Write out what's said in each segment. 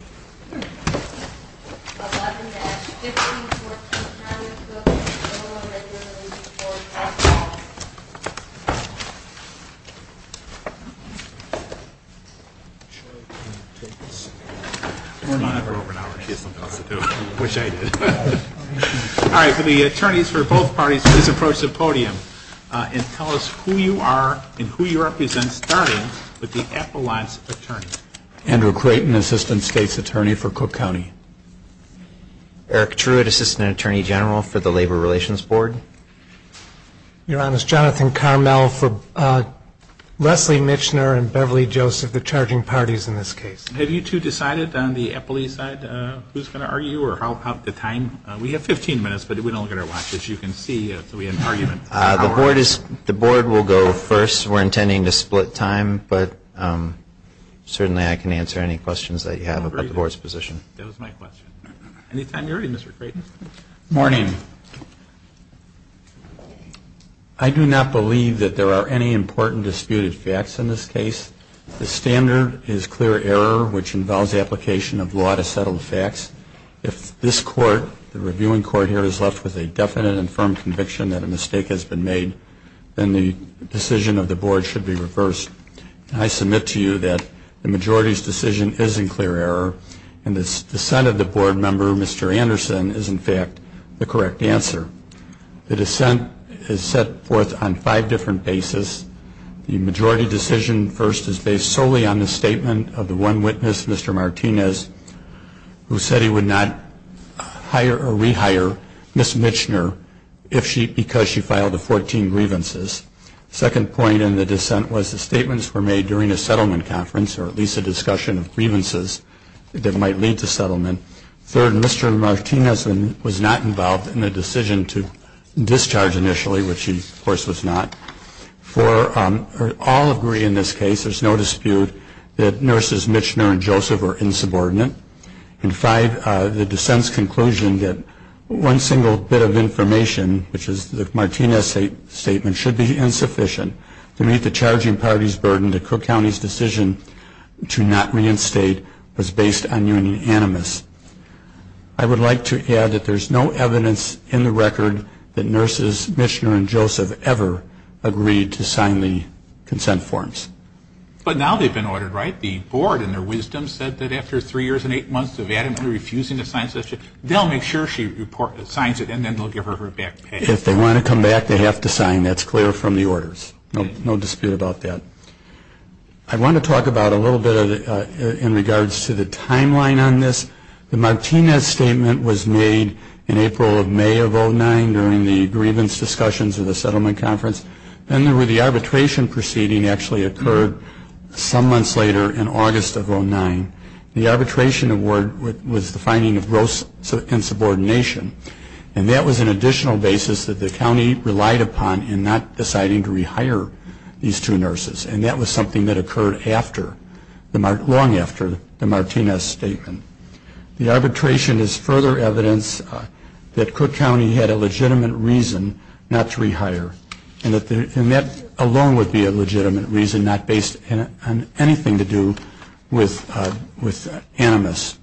11-15, 14th Avenue, Cook v. IL Labor Relations Board, House Hall Attorney for both parties, please approach the podium and tell us who you are and who you represent, starting with the Appalachian Attorney. Andrew Creighton, Assistant State's Attorney for Cook County. Eric Truitt, Assistant Attorney General for the Labor Relations Board. Your Honor, it's Jonathan Carmel for Leslie Michener and Beverly Joseph, the charging parties in this case. Have you two decided on the Appalachian side who's going to argue or how about the time? We have 15 minutes, but we don't get our watch, as you can see, so we have an argument. The board will go first. We're intending to split time, but certainly I can answer any questions that you have about the board's position. That was my question. Any time you're ready, Mr. Creighton. Morning. I do not believe that there are any important disputed facts in this case. The standard is clear error, which involves the application of law to settle the facts. If this court, the reviewing court here, is left with a definite and firm conviction that a mistake has been made, then the decision of the board should be reversed. I submit to you that the majority's decision is in clear error, and the dissent of the board member, Mr. Anderson, is in fact the correct answer. The dissent is set forth on five different bases. The majority decision first is based solely on the statement of the one witness, Mr. Martinez, who said he would not hire or rehire Ms. Michener because she filed the 14 grievances. Second point in the dissent was the statements were made during a settlement conference, or at least a discussion of grievances that might lead to settlement. Third, Mr. Martinez was not involved in the decision to discharge initially, which he, of course, was not. Four, we all agree in this case, there's no dispute, that nurses Michener and Joseph were insubordinate. And five, the dissent's conclusion that one single bit of information, which is the Martinez statement, should be insufficient to meet the charging party's burden. The court's decision to not reinstate was based on unanimous. I would like to add that there's no evidence in the record that nurses Michener and Joseph ever agreed to sign the consent forms. But now they've been ordered, right? The board, in their wisdom, said that after three years and eight months of adamantly refusing to sign, they'll make sure she signs it and then they'll give her her back. And that's clear from the orders. No dispute about that. I want to talk about a little bit in regards to the timeline on this. The Martinez statement was made in April of May of 09 during the grievance discussions of the settlement conference. Then there were the arbitration proceeding actually occurred some months later in August of 09. The arbitration award was the finding of gross insubordination. And that was an additional basis that the county relied upon in not deciding to rehire these two nurses. And that was something that occurred long after the Martinez statement. The arbitration is further evidence that Cook County had a legitimate reason not to rehire. And that alone would be a legitimate reason not based on anything to do with animus.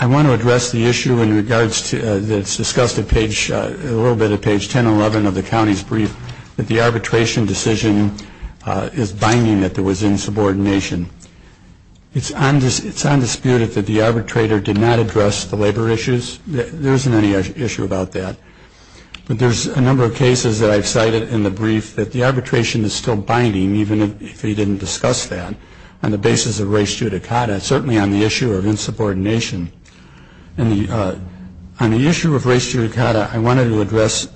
I want to address the issue in regards to that's discussed a little bit at page 10 and 11 of the county's brief, that the arbitration decision is binding that there was insubordination. It's undisputed that the arbitrator did not address the labor issues. There isn't any issue about that. But there's a number of cases that I've cited in the brief that the arbitration is still binding, even if he didn't discuss that, on the basis of res judicata, certainly on the issue of insubordination. And on the issue of res judicata, I wanted to address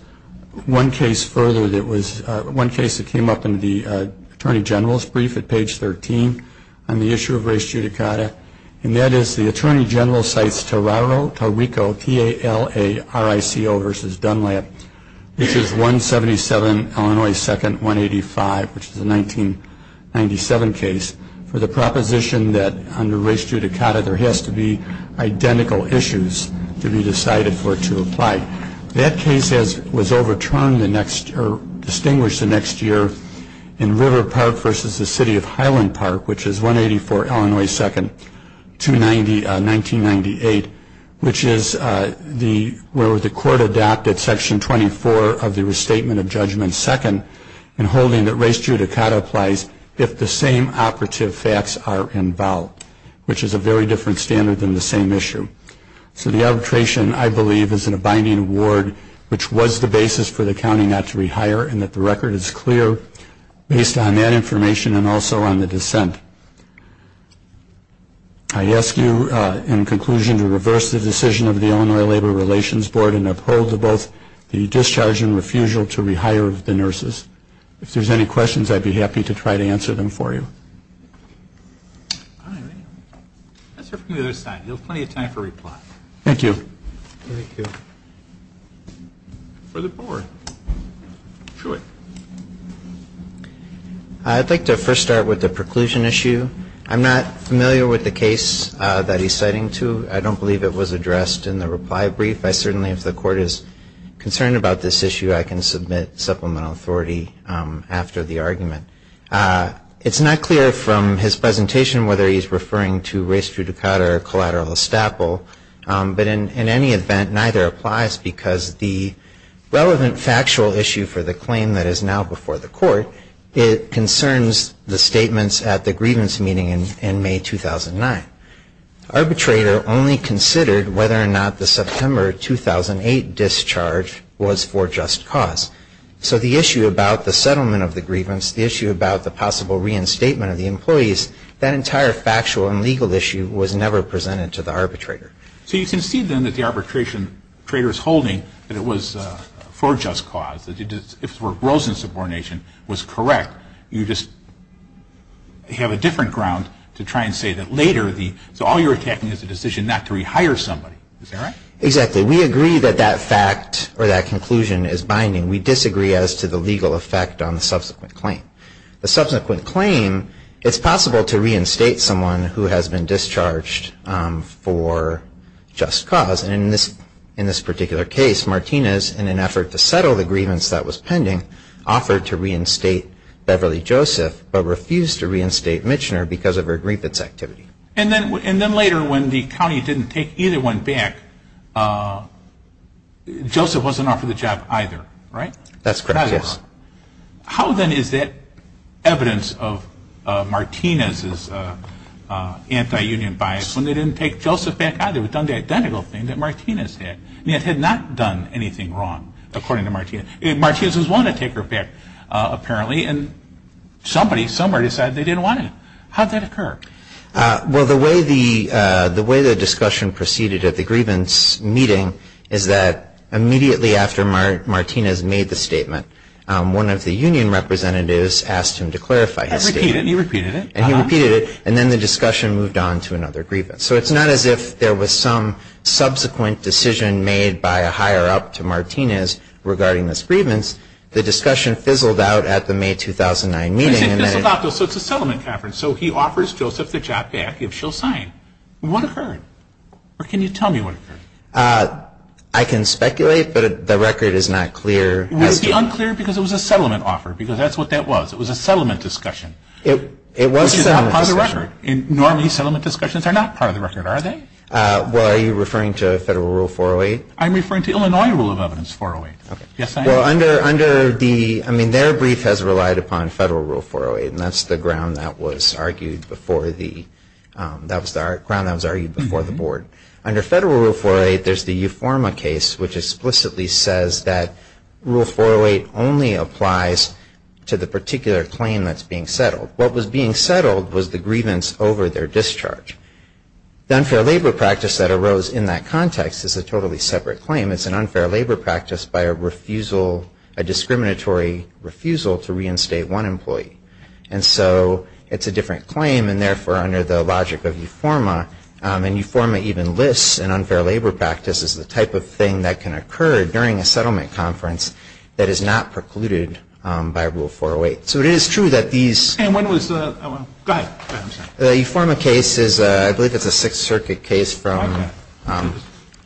one case further that was one case that came up in the Attorney General's brief at page 13 on the issue of res judicata. And that is the Attorney General cites Tararo, Tarrico, T-A-L-A-R-I-C-O versus Dunlap, which is 177 Illinois 2nd, 185, which is a 1997 case, for the proposition that under res judicata there has to be identical issues to be decided for it to apply. That case was overturned or distinguished the next year in River Park versus the City of Highland Park, which is 184 Illinois 2nd, 1998, which is where the court adopted Section 24 of the Restatement of Judgment 2nd in holding that res judicata applies if the same operative facts are involved, which is a very different standard than the same issue. So the arbitration, I believe, is in a binding award, which was the basis for the county not to rehire, and that the record is clear based on that information and also on the dissent. I ask you in conclusion to reverse the decision of the Illinois Labor Relations Board and uphold both the discharge and refusal to rehire the nurses. If there's any questions, I'd be happy to try to answer them for you. All right. Let's hear from the other side. We have plenty of time for reply. Thank you. Thank you. Further forward. Truett. I'd like to first start with the preclusion issue. I'm not familiar with the case that he's citing to. I don't believe it was addressed in the reply brief. I certainly, if the court is concerned about this issue, I can submit supplemental authority after the argument. It's not clear from his presentation whether he's referring to res judicata or collateral estaple, but in any event, neither applies because the relevant factual issue for the claim that is now before the court, it concerns the statements at the grievance meeting in May 2009. Arbitrator only considered whether or not the September 2008 discharge was for just cause. So the issue about the settlement of the grievance, the issue about the possible reinstatement of the employees, that entire factual and legal issue was never presented to the arbitrator. So you concede then that the arbitration traitor is holding that it was for just cause, that it was for gross insubordination was correct. You just have a different ground to try and say that later the, so all you're attacking is the decision not to rehire somebody. Is that right? Exactly. We agree that that fact or that conclusion is binding. We disagree as to the legal effect on the subsequent claim. The subsequent claim, it's possible to reinstate someone who has been discharged for just cause. And in this particular case, Martinez, in an effort to settle the grievance that was pending, offered to reinstate Beverly Joseph but refused to reinstate Michener because of her grievance activity. And then later when the county didn't take either one back, Joseph wasn't offered the job either, right? That's correct, yes. How then is that evidence of Martinez's anti-union bias when they didn't take Joseph back either? They had done the identical thing that Martinez did, and yet had not done anything wrong, according to Martinez. Martinez was willing to take her back, apparently, and somebody somewhere decided they didn't want to. How did that occur? Well, the way the discussion proceeded at the grievance meeting is that immediately after Martinez made the statement, one of the union representatives asked him to clarify his statement. He repeated it. And he repeated it, and then the discussion moved on to another grievance. So it's not as if there was some subsequent decision made by a higher-up to Martinez regarding this grievance. The discussion fizzled out at the May 2009 meeting. So it's a settlement conference. So he offers Joseph the job back if she'll sign. What occurred? Or can you tell me what occurred? I can speculate, but the record is not clear. It must be unclear because it was a settlement offer, because that's what that was. It was a settlement discussion. It was a settlement discussion. Which is not part of the record. Normally, settlement discussions are not part of the record, are they? Well, are you referring to Federal Rule 408? I'm referring to Illinois Rule of Evidence 408. Okay. Yes, I am. Well, under the ‑‑ I mean, their brief has relied upon Federal Rule 408, and that's the ground that was argued before the board. Under Federal Rule 408, there's the Uforma case, which explicitly says that Rule 408 only applies to the particular claim that's being settled. What was being settled was the grievance over their discharge. The unfair labor practice that arose in that context is a totally separate claim. It's an unfair labor practice by a refusal, a discriminatory refusal to reinstate one employee. And so it's a different claim, and therefore, under the logic of Uforma, and Uforma even lists an unfair labor practice as the type of thing that can occur during a settlement conference that is not precluded by Rule 408. So it is true that these ‑‑ And when was the ‑‑ go ahead. I'm sorry. The Uforma case is, I believe it's a Sixth Circuit case from ‑‑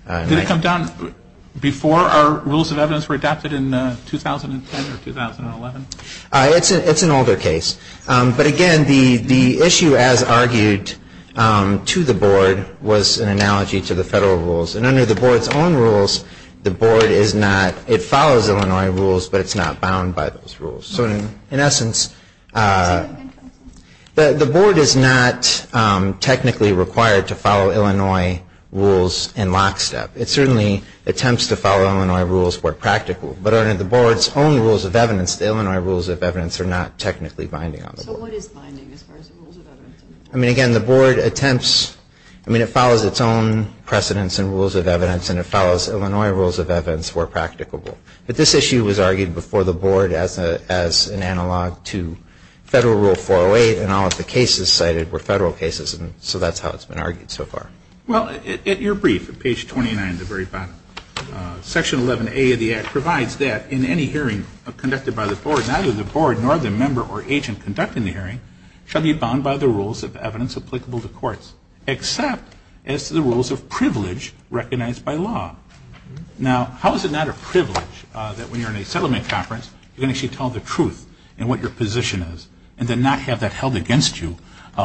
Okay. Did it come down before our Rules of Evidence were adopted in 2010 or 2011? It's an older case. But again, the issue as argued to the board was an analogy to the federal rules. And under the board's own rules, the board is not ‑‑ it follows Illinois rules, but it's not bound by those rules. So in essence, the board is not technically required to follow Illinois rules in lockstep. It certainly attempts to follow Illinois rules where practical. But under the board's own Rules of Evidence, the Illinois Rules of Evidence are not technically binding on the board. So what is binding as far as the Rules of Evidence? I mean, again, the board attempts ‑‑ I mean, it follows its own precedence in Rules of Evidence, and it follows Illinois Rules of Evidence where practicable. But this issue was argued before the board as an analog to federal Rule 408, and all of the cases cited were federal cases. So that's how it's been argued so far. Well, at your brief, at page 29 at the very bottom, Section 11A of the Act provides that in any hearing conducted by the board, neither the board nor the member or agent conducting the hearing shall be bound by the Rules of Evidence applicable to courts, except as to the Rules of Privilege recognized by law. Now, how is it not a privilege that when you're in a settlement conference, you can actually tell the truth in what your position is and then not have that held against you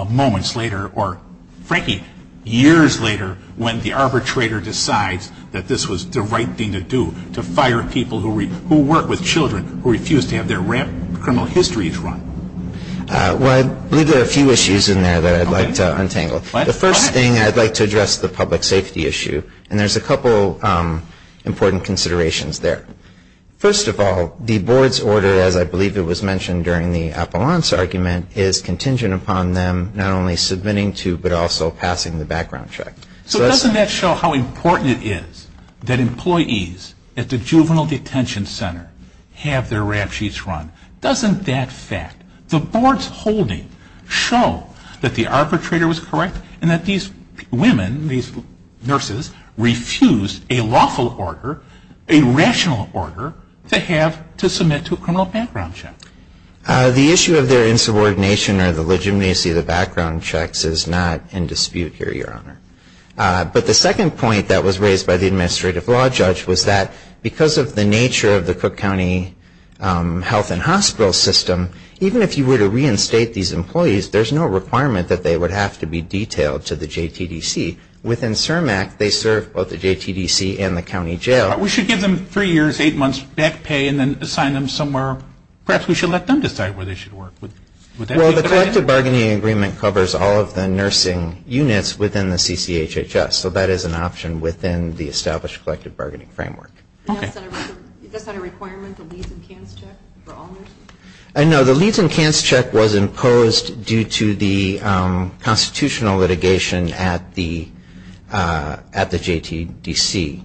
moments later or, frankly, years later when the arbitrator decides that this was the right thing to do, to fire people who work with children who refuse to have their criminal histories run? Well, I believe there are a few issues in there that I'd like to untangle. The first thing, I'd like to address the public safety issue, and there's a couple important considerations there. First of all, the board's order, as I believe it was mentioned during the Appellant's argument, is contingent upon them not only submitting to but also passing the background check. So doesn't that show how important it is that employees at the juvenile detention center have their rap sheets run? Doesn't that fact, the board's holding, show that the arbitrator was correct and that these women, these nurses, refused a lawful order, a rational order to have to submit to a criminal background check? The issue of their insubordination or the legitimacy of the background checks is not in dispute here, Your Honor. But the second point that was raised by the administrative law judge was that because of the nature of the Cook County health and hospital system, even if you were to reinstate these employees, there's no requirement that they would have to be detailed to the JTDC. Within CIRM Act, they serve both the JTDC and the county jail. We should give them three years, eight months back pay and then assign them somewhere. Perhaps we should let them decide where they should work. Well, the collective bargaining agreement covers all of the nursing units within the CCHHS, so that is an option within the established collective bargaining framework. Okay. Is that a requirement, the Leeds and Kants check for all nurses? No. The Leeds and Kants check was imposed due to the constitutional litigation at the JTDC.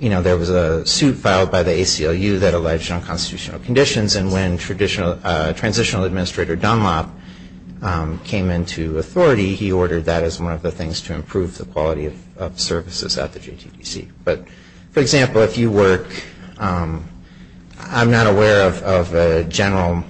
You know, there was a suit filed by the ACLU that alleged unconstitutional conditions, and when transitional administrator Dunlop came into authority, he ordered that as one of the things to improve the quality of services at the JTDC. But, for example, if you work, I'm not aware of a general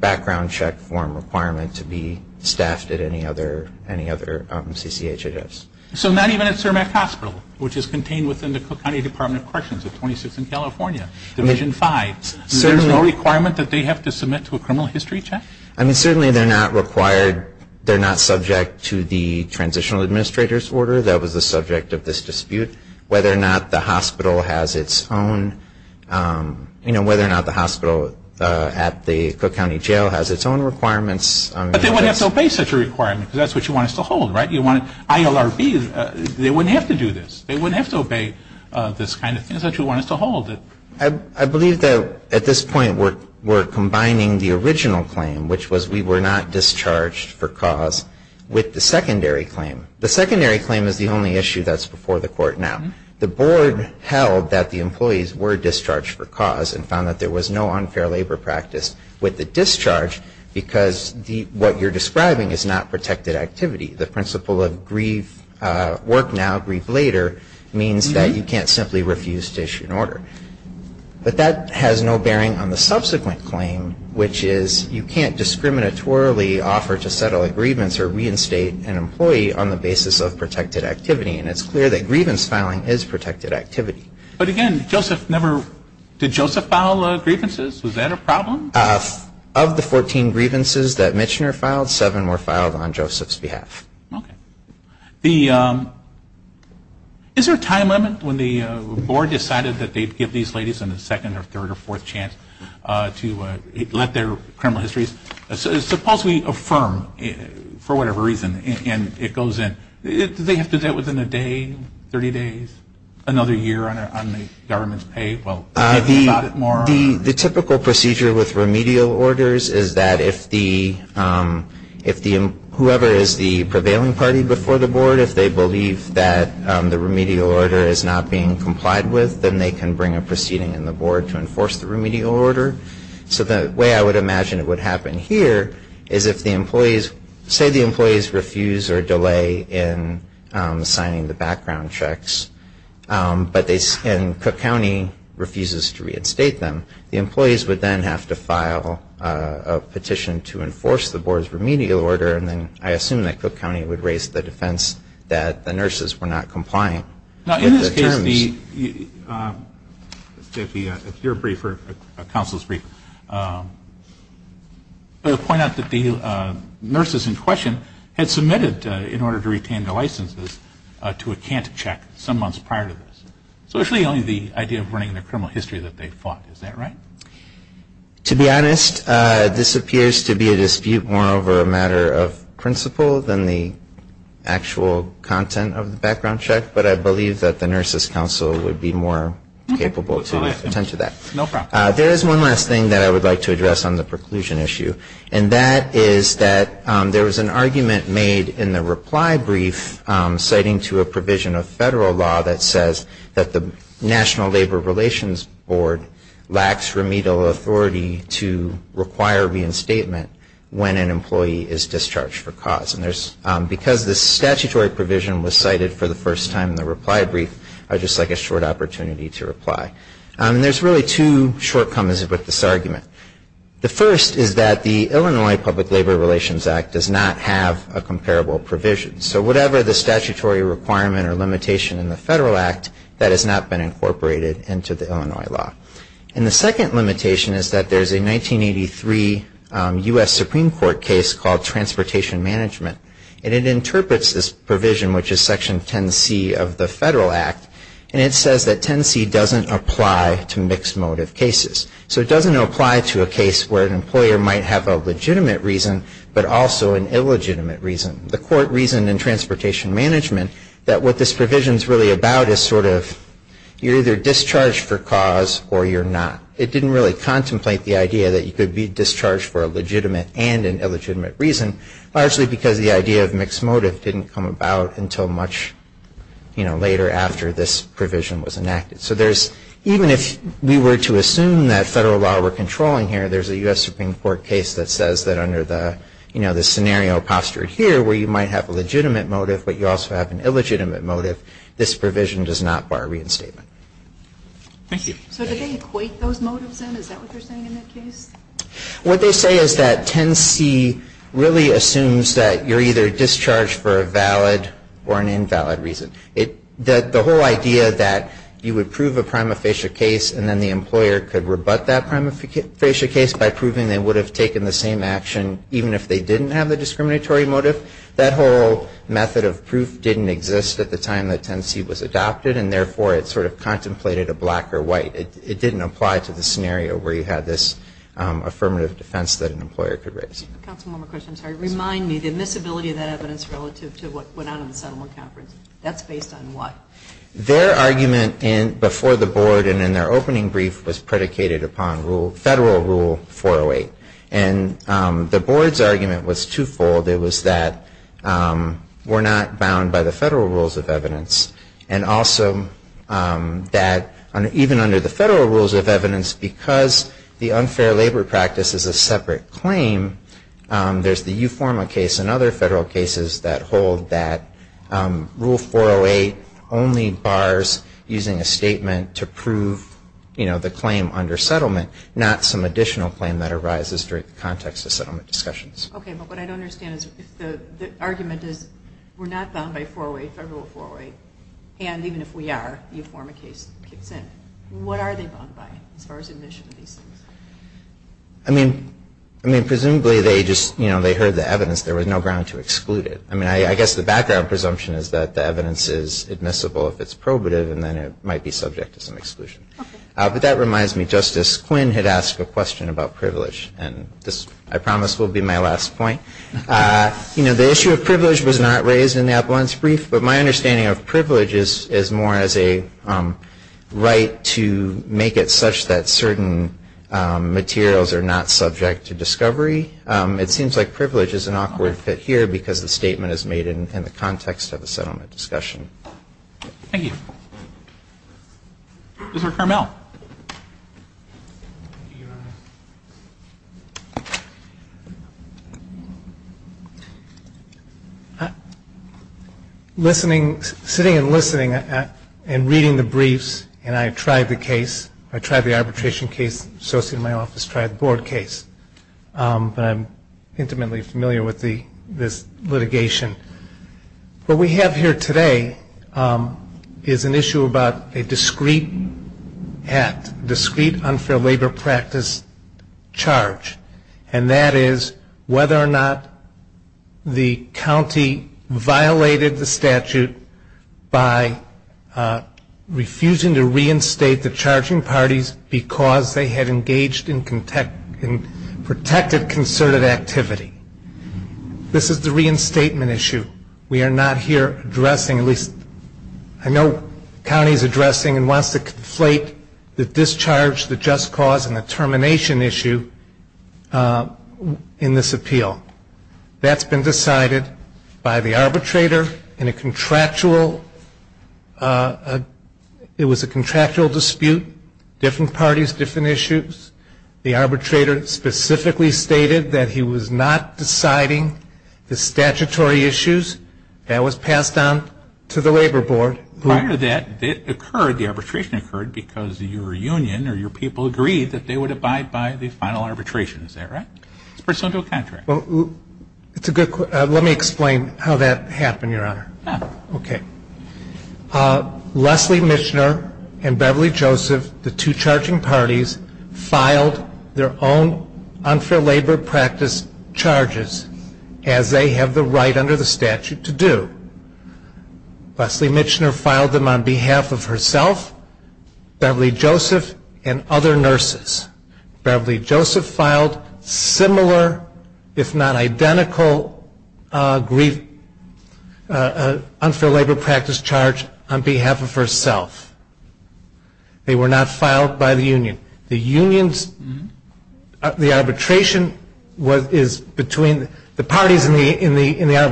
background check form requirement to be staffed at any other CCHHS. So not even at CIRM Act Hospital, which is contained within the County Department of Corrections at 26th and California, Division 5. There's no requirement that they have to submit to a criminal history check? I mean, certainly they're not required. They're not subject to the transitional administrator's order. That was the subject of this dispute. Whether or not the hospital has its own, you know, whether or not the hospital at the Cook County Jail has its own requirements. But they wouldn't have to obey such a requirement, because that's what you want us to hold, right? You want ILRB, they wouldn't have to do this. They wouldn't have to obey this kind of thing. It's what you want us to hold. I believe that at this point we're combining the original claim, which was we were not discharged for cause, with the secondary claim. The secondary claim is the only issue that's before the court now. The board held that the employees were discharged for cause and found that there was no unfair labor practice with the discharge, because what you're describing is not protected activity. The principle of grief work now, grief later, means that you can't simply refuse to issue an order. But that has no bearing on the subsequent claim, which is you can't discriminatorily offer to settle agreements or reinstate an employee on the basis of protected activity. And it's clear that grievance filing is protected activity. But, again, Joseph never – did Joseph file grievances? Was that a problem? Of the 14 grievances that Michener filed, seven were filed on Joseph's behalf. Okay. The – is there a time limit when the board decided that they'd give these ladies a second or third or fourth chance to let their criminal histories – suppose we affirm, for whatever reason, and it goes in, do they have to do that within a day, 30 days, another year on the government's pay? Well, maybe a little bit more? The typical procedure with remedial orders is that if the – whoever is the prevailing party before the board, if they believe that the remedial order is not being complied with, then they can bring a proceeding in the board to enforce the remedial order. So the way I would imagine it would happen here is if the employees – say the employees refuse or delay in signing the background checks, but they – and Cook County refuses to reinstate them. The employees would then have to file a petition to enforce the board's remedial order, and then I assume that Cook County would raise the defense that the nurses were not compliant with the terms. If the – if the – if you're a briefer, a counsel's briefer, point out that the nurses in question had submitted, in order to retain their licenses, to a cant check some months prior to this. So it's really only the idea of running a criminal history that they fought. Is that right? To be honest, this appears to be a dispute more over a matter of principle than the actual content of the background check, but I believe that the nurses' counsel would be more capable to attend to that. No problem. There is one last thing that I would like to address on the preclusion issue, and that is that there was an argument made in the reply brief citing to a provision of federal law that says that the National Labor Relations Board lacks remedial authority to require reinstatement when an employee is discharged for cause. And there's – because this statutory provision was cited for the first time in the reply brief, I would just like a short opportunity to reply. And there's really two shortcomings with this argument. The first is that the Illinois Public Labor Relations Act does not have a comparable provision. So whatever the statutory requirement or limitation in the federal act, that has not been incorporated into the Illinois law. And the second limitation is that there's a 1983 U.S. Supreme Court case that was called Transportation Management. And it interprets this provision, which is Section 10C of the federal act, and it says that 10C doesn't apply to mixed motive cases. So it doesn't apply to a case where an employer might have a legitimate reason, but also an illegitimate reason. The court reasoned in Transportation Management that what this provision is really about is sort of you're either discharged for cause or you're not. It didn't really contemplate the idea that you could be discharged for a legitimate and an illegitimate reason, largely because the idea of mixed motive didn't come about until much later after this provision was enacted. So there's – even if we were to assume that federal law we're controlling here, there's a U.S. Supreme Court case that says that under the scenario postured here where you might have a legitimate motive, but you also have an illegitimate motive, this provision does not bar reinstatement. Thank you. So did they equate those motives in? Is that what they're saying in that case? What they say is that 10C really assumes that you're either discharged for a valid or an invalid reason. The whole idea that you would prove a prima facie case and then the employer could rebut that prima facie case by proving they would have taken the same action even if they didn't have the discriminatory motive, that whole method of proof didn't exist at the time that 10C was adopted and therefore it sort of contemplated a black or white. It didn't apply to the scenario where you had this affirmative defense that an employer could raise. Counsel, one more question. Remind me the admissibility of that evidence relative to what went on in the settlement conference. That's based on what? Their argument before the board and in their opening brief was predicated upon federal Rule 408. And the board's argument was twofold. It was that we're not bound by the federal rules of evidence and also that even under the federal rules of evidence, because the unfair labor practice is a separate claim, there's the Uforma case and other federal cases that hold that Rule 408 only bars using a statement to prove the claim under settlement, not some additional claim that arises during the context of settlement discussions. Okay, but what I don't understand is if the argument is we're not bound by Federal Rule 408 and even if we are, the Uforma case kicks in. What are they bound by as far as admission of these things? I mean, presumably they heard the evidence. There was no ground to exclude it. I guess the background presumption is that the evidence is admissible if it's probative and then it might be subject to some exclusion. But that reminds me, Justice Quinn had asked a question about privilege and this, I promise, will be my last point. You know, the issue of privilege was not raised in the Appellant's brief, but my understanding of privilege is more as a right to make it such that certain materials are not subject to discovery. It seems like privilege is an awkward fit here because the statement is made in the context of a settlement discussion. Thank you. Mr. Carmel. Sitting and listening and reading the briefs, and I tried the case, I tried the arbitration case associated with my office, tried the board case, but I'm intimately familiar with this litigation. What we have here today is an issue about a discrete act, a discrete unfair labor practice charge, and that is whether or not the county violated the statute by refusing to reinstate the charging parties because they had engaged in protected concerted activity. This is the reinstatement issue. We are not here addressing, at least I know the county is addressing and wants to conflate the discharge, the just cause, and the termination issue in this appeal. That's been decided by the arbitrator in a contractual, it was a contractual dispute, different parties, different issues. The arbitrator specifically stated that he was not deciding the statutory issues. That was passed on to the labor board. Prior to that, it occurred, the arbitration occurred because your union or your people agreed that they would abide by the final arbitration. Is that right? It's pursuant to a contract. Let me explain how that happened, Your Honor. Okay. Leslie Michener and Beverly Joseph, the two charging parties, filed their own unfair labor practice charges as they have the right under the statute to do. Leslie Michener filed them on behalf of herself, Beverly Joseph, and other nurses. Beverly Joseph filed similar, if not identical, unfair labor practice charge on behalf of herself. They were not filed by the union. The parties in the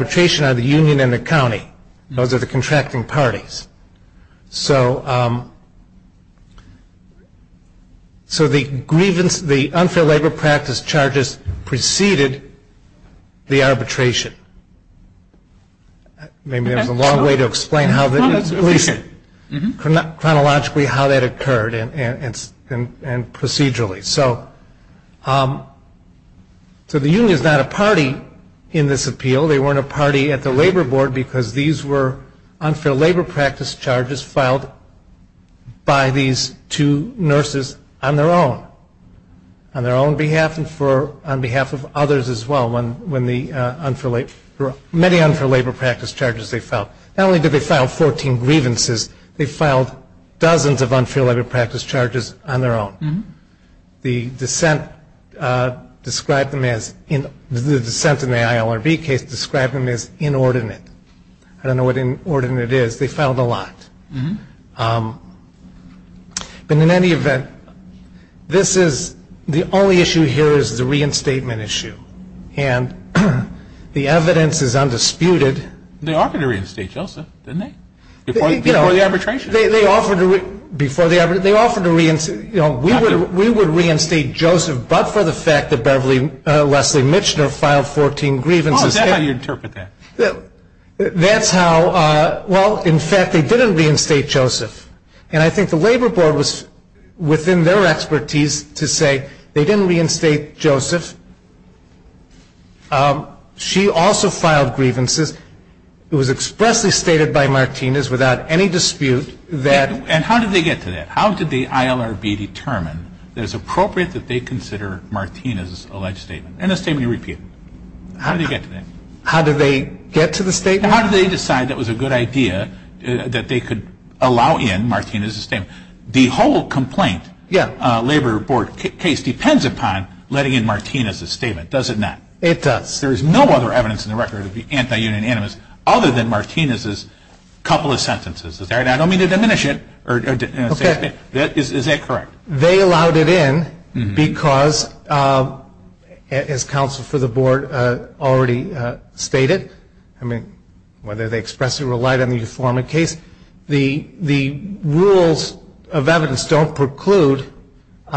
arbitration are the union and the county. Those are the contracting parties. So the grievance, the unfair labor practice charges preceded the arbitration. Maybe there's a long way to explain how that, chronologically how that occurred and procedurally. So the union is not a party in this appeal. They weren't a party at the labor board because these were unfair labor practice charges filed by these two nurses on their own, on their own behalf and on behalf of others as well when the unfair labor, many unfair labor practice charges they filed. Not only did they file 14 grievances, they filed dozens of unfair labor practice charges on their own. The dissent described them as, the dissent in the ILRB case described them as inordinate. I don't know what inordinate is. They filed a lot. But in any event, this is, the only issue here is the reinstatement issue. And the evidence is undisputed. They offered to reinstate Joseph, didn't they? Before the arbitration. They offered to, before the arbitration, they offered to reinstate, you know, we would reinstate Joseph but for the fact that Beverly Leslie Michener filed 14 grievances. Oh, is that how you interpret that? That's how, well, in fact, they didn't reinstate Joseph. And I think the labor board was within their expertise to say they didn't reinstate Joseph. She also filed grievances. It was expressly stated by Martinez without any dispute that. And how did they get to that? How did the ILRB determine that it was appropriate that they consider Martinez's alleged statement? And the statement you repeated. How did they get to that? How did they get to the statement? How did they decide that was a good idea, that they could allow in Martinez's statement? The whole complaint, labor board case, depends upon letting in Martinez's statement, does it not? It does. There is no other evidence in the record of the anti-union animus other than Martinez's couple of sentences. Is that right? I don't mean to diminish it. Okay. Is that correct? They allowed it in because, as counsel for the board already stated, I mean, whether they expressly relied on the deformity case, the rules of evidence don't preclude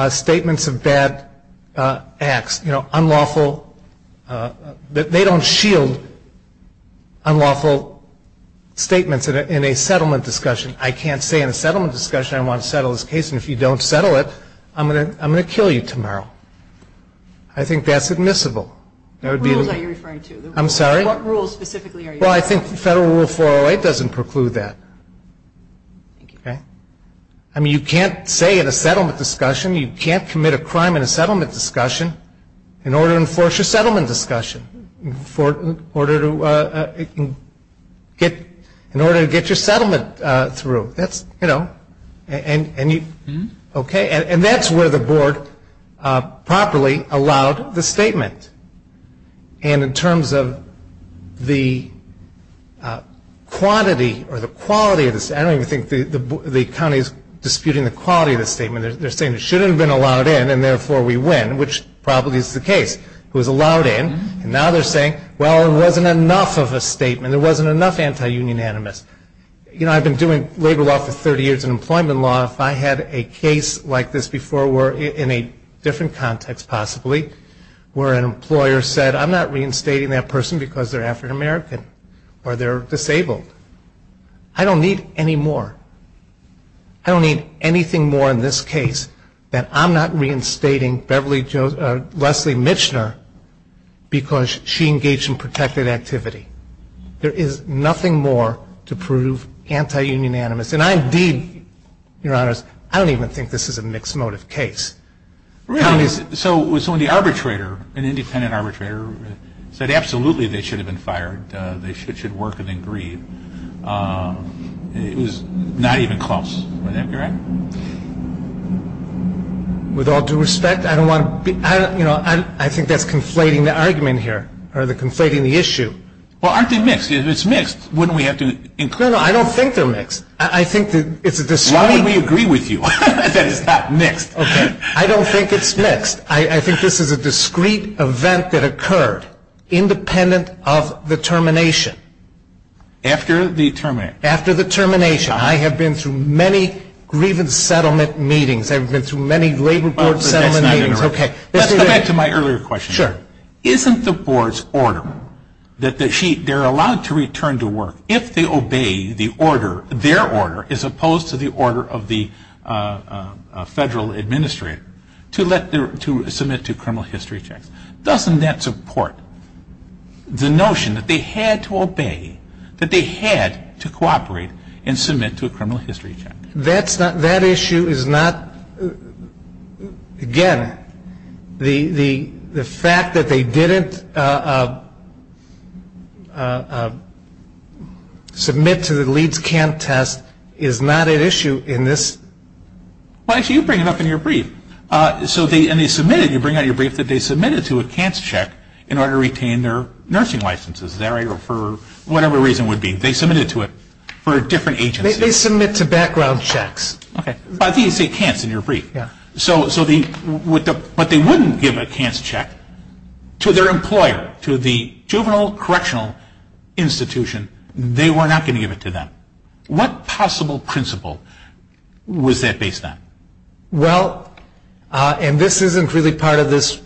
statements of bad acts, you know, unlawful, that they don't shield unlawful statements in a settlement discussion. I can't say in a settlement discussion I don't want to settle this case, and if you don't settle it, I'm going to kill you tomorrow. I think that's admissible. What rules are you referring to? I'm sorry? What rules specifically are you referring to? Well, I think Federal Rule 408 doesn't preclude that. Okay? I mean, you can't say in a settlement discussion, you can't commit a crime in a settlement discussion, in order to enforce your settlement discussion, in order to get your settlement through. That's, you know, okay? And that's where the board properly allowed the statement. And in terms of the quantity or the quality of the statement, I don't even think the county is disputing the quality of the statement. They're saying it shouldn't have been allowed in, and therefore we win, which probably is the case. It was allowed in, and now they're saying, well, there wasn't enough of a statement. There wasn't enough anti-union animus. You know, I've been doing labor law for 30 years and employment law. If I had a case like this before, in a different context possibly, where an employer said, I'm not reinstating that person because they're African American or they're disabled. I don't need any more. I don't need anything more in this case that I'm not reinstating Leslie Michener because she engaged in protected activity. There is nothing more to prove anti-union animus. And I indeed, Your Honors, I don't even think this is a mixed motive case. So when the arbitrator, an independent arbitrator, said absolutely they should have been fired, they should work and then grieve, it was not even close. Would that be right? With all due respect, I don't want to be, you know, I think that's conflating the argument here or conflating the issue. Well, aren't they mixed? If it's mixed, wouldn't we have to include them? No, no, I don't think they're mixed. I think it's a discrete. Why would we agree with you that it's not mixed? Okay. I don't think it's mixed. I think this is a discrete event that occurred independent of the termination. After the termination? After the termination. I have been through many grievance settlement meetings. I've been through many labor court settlement meetings. Okay. Let's go back to my earlier question. Sure. Isn't the Board's order that they're allowed to return to work if they obey the order, their order, as opposed to the order of the Federal Administrator to submit to criminal history checks? Doesn't that support the notion that they had to obey, that they had to cooperate and submit to a criminal history check? That issue is not, again, the fact that they didn't submit to the Leeds CANT test is not an issue in this. Well, actually, you bring it up in your brief. So they submitted, you bring it up in your brief, that they submitted to a CANT check in order to retain their nursing licenses. Is that right? Or for whatever reason would be, they submitted to it for a different agency. They submit to background checks. Okay. I think you say CANTs in your brief. Yeah. So the, but they wouldn't give a CANTs check to their employer, to the juvenile correctional institution. They were not going to give it to them. What possible principle was that based on? Well, and this isn't really part of this,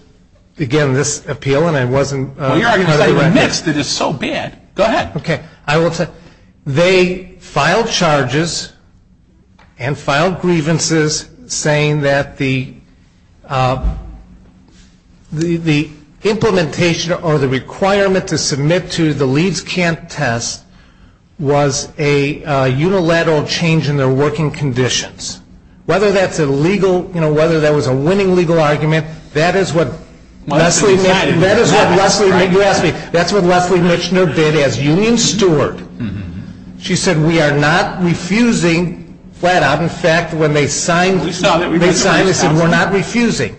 again, this appeal, and I wasn't part of the record. Well, you're arguing something that's so bad. Go ahead. Okay. I will tell you, they filed charges and filed grievances saying that the implementation or the requirement to submit to the Leeds CANT test was a unilateral change in their working conditions. Whether that's a legal, you know, whether that was a winning legal argument, that is what Leslie, you asked me, that's what Leslie Mitchner did as union steward. She said we are not refusing flat out. In fact, when they signed, they said we're not refusing.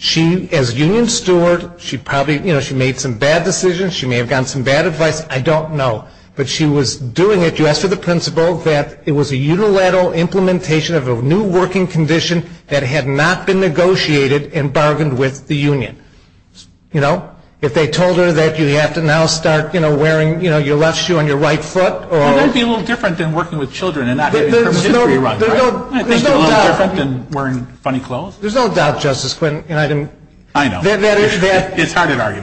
She, as union steward, she probably, you know, she made some bad decisions. She may have gotten some bad advice. I don't know. But she was doing it just for the principle that it was a unilateral implementation of a new working condition that had not been negotiated and bargained with the union. You know? If they told her that you have to now start, you know, wearing, you know, your left shoe on your right foot or... That would be a little different than working with children and not having their history run, right? There's no doubt. I think it's a little different than wearing funny clothes. There's no doubt, Justice Quentin, and I didn't... I know. It's hard to argue.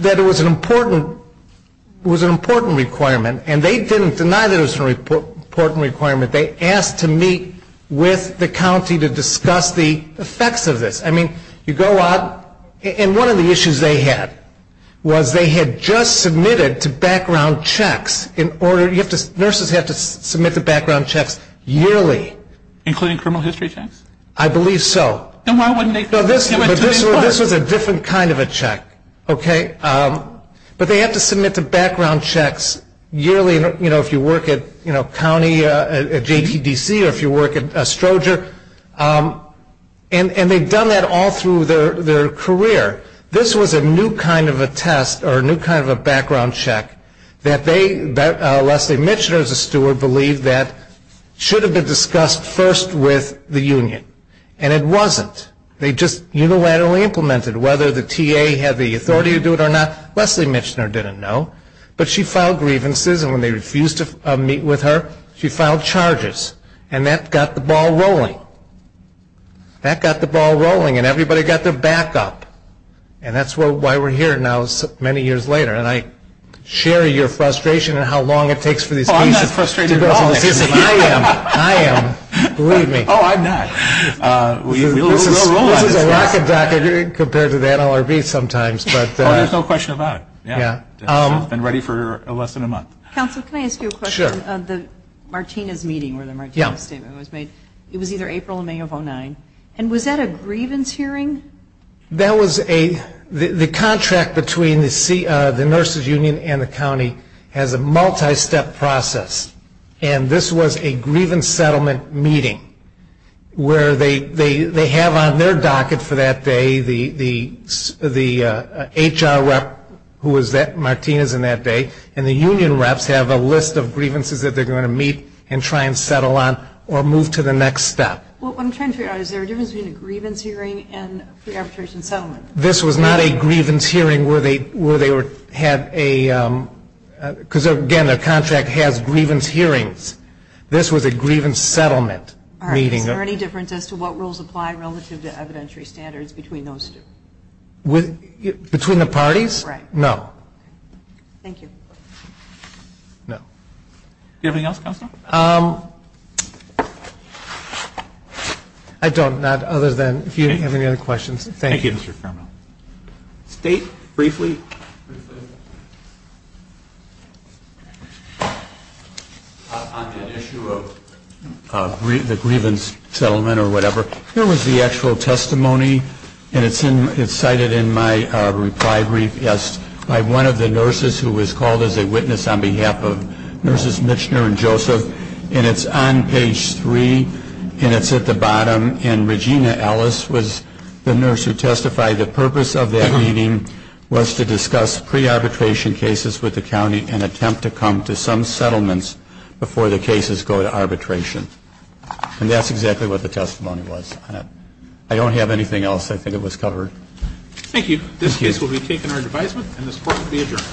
That it was an important requirement, and they didn't deny that it was an important requirement. They asked to meet with the county to discuss the effects of this. I mean, you go out... And one of the issues they had was they had just submitted to background checks in order... You have to... Nurses have to submit to background checks yearly. Including criminal history checks? I believe so. Then why wouldn't they... This was a different kind of a check, okay? But they have to submit to background checks yearly. You know, if you work at county JTDC or if you work at Stroger... And they've done that all through their career. This was a new kind of a test or a new kind of a background check that they... Leslie Michener, as a steward, believed that it should have been discussed first with the union. And it wasn't. They just unilaterally implemented it. Whether the TA had the authority to do it or not, Leslie Michener didn't know. But she filed grievances. And when they refused to meet with her, she filed charges. And that got the ball rolling. That got the ball rolling. And everybody got their back up. And that's why we're here now many years later. And I share your frustration in how long it takes for these cases... Oh, I'm not frustrated at all. I am. I am. Believe me. Oh, I'm not. This is a rocket dock compared to the NLRB sometimes. Oh, there's no question about it. Yeah. It's been ready for less than a month. Counsel, can I ask you a question? Sure. The Martinez meeting where the Martinez statement was made. Yeah. It was either April or May of 2009. And was that a grievance hearing? That was a... The contract between the nurses union and the county has a multi-step process. And this was a grievance settlement meeting where they have on their docket for that day the HR rep who was at Martinez on that day and the union reps have a list of grievances that they're going to meet and try and settle on or move to the next step. What I'm trying to figure out is there a difference between a grievance hearing and a pre-arbitration settlement? This was not a grievance hearing where they had a... because, again, the contract has grievance hearings. This was a grievance settlement meeting. Is there any difference as to what rules apply relative to evidentiary standards between those two? Between the parties? Right. No. Thank you. No. Do you have anything else, Counsel? I don't, not other than if you have any other questions. Thank you. Thank you, Mr. Carmel. State briefly. On the issue of the grievance settlement or whatever, here was the actual testimony and it's cited in my reply brief, yes, by one of the nurses who was called as a witness on behalf of Nurses Michener and Joseph. And it's on page 3 and it's at the bottom. And Regina Ellis was the nurse who testified. The purpose of that meeting was to discuss pre-arbitration cases with the county and attempt to come to some settlements before the cases go to arbitration. And that's exactly what the testimony was. I don't have anything else. I think it was covered. Thank you. This case will be taken under advisement and this Court will be adjourned.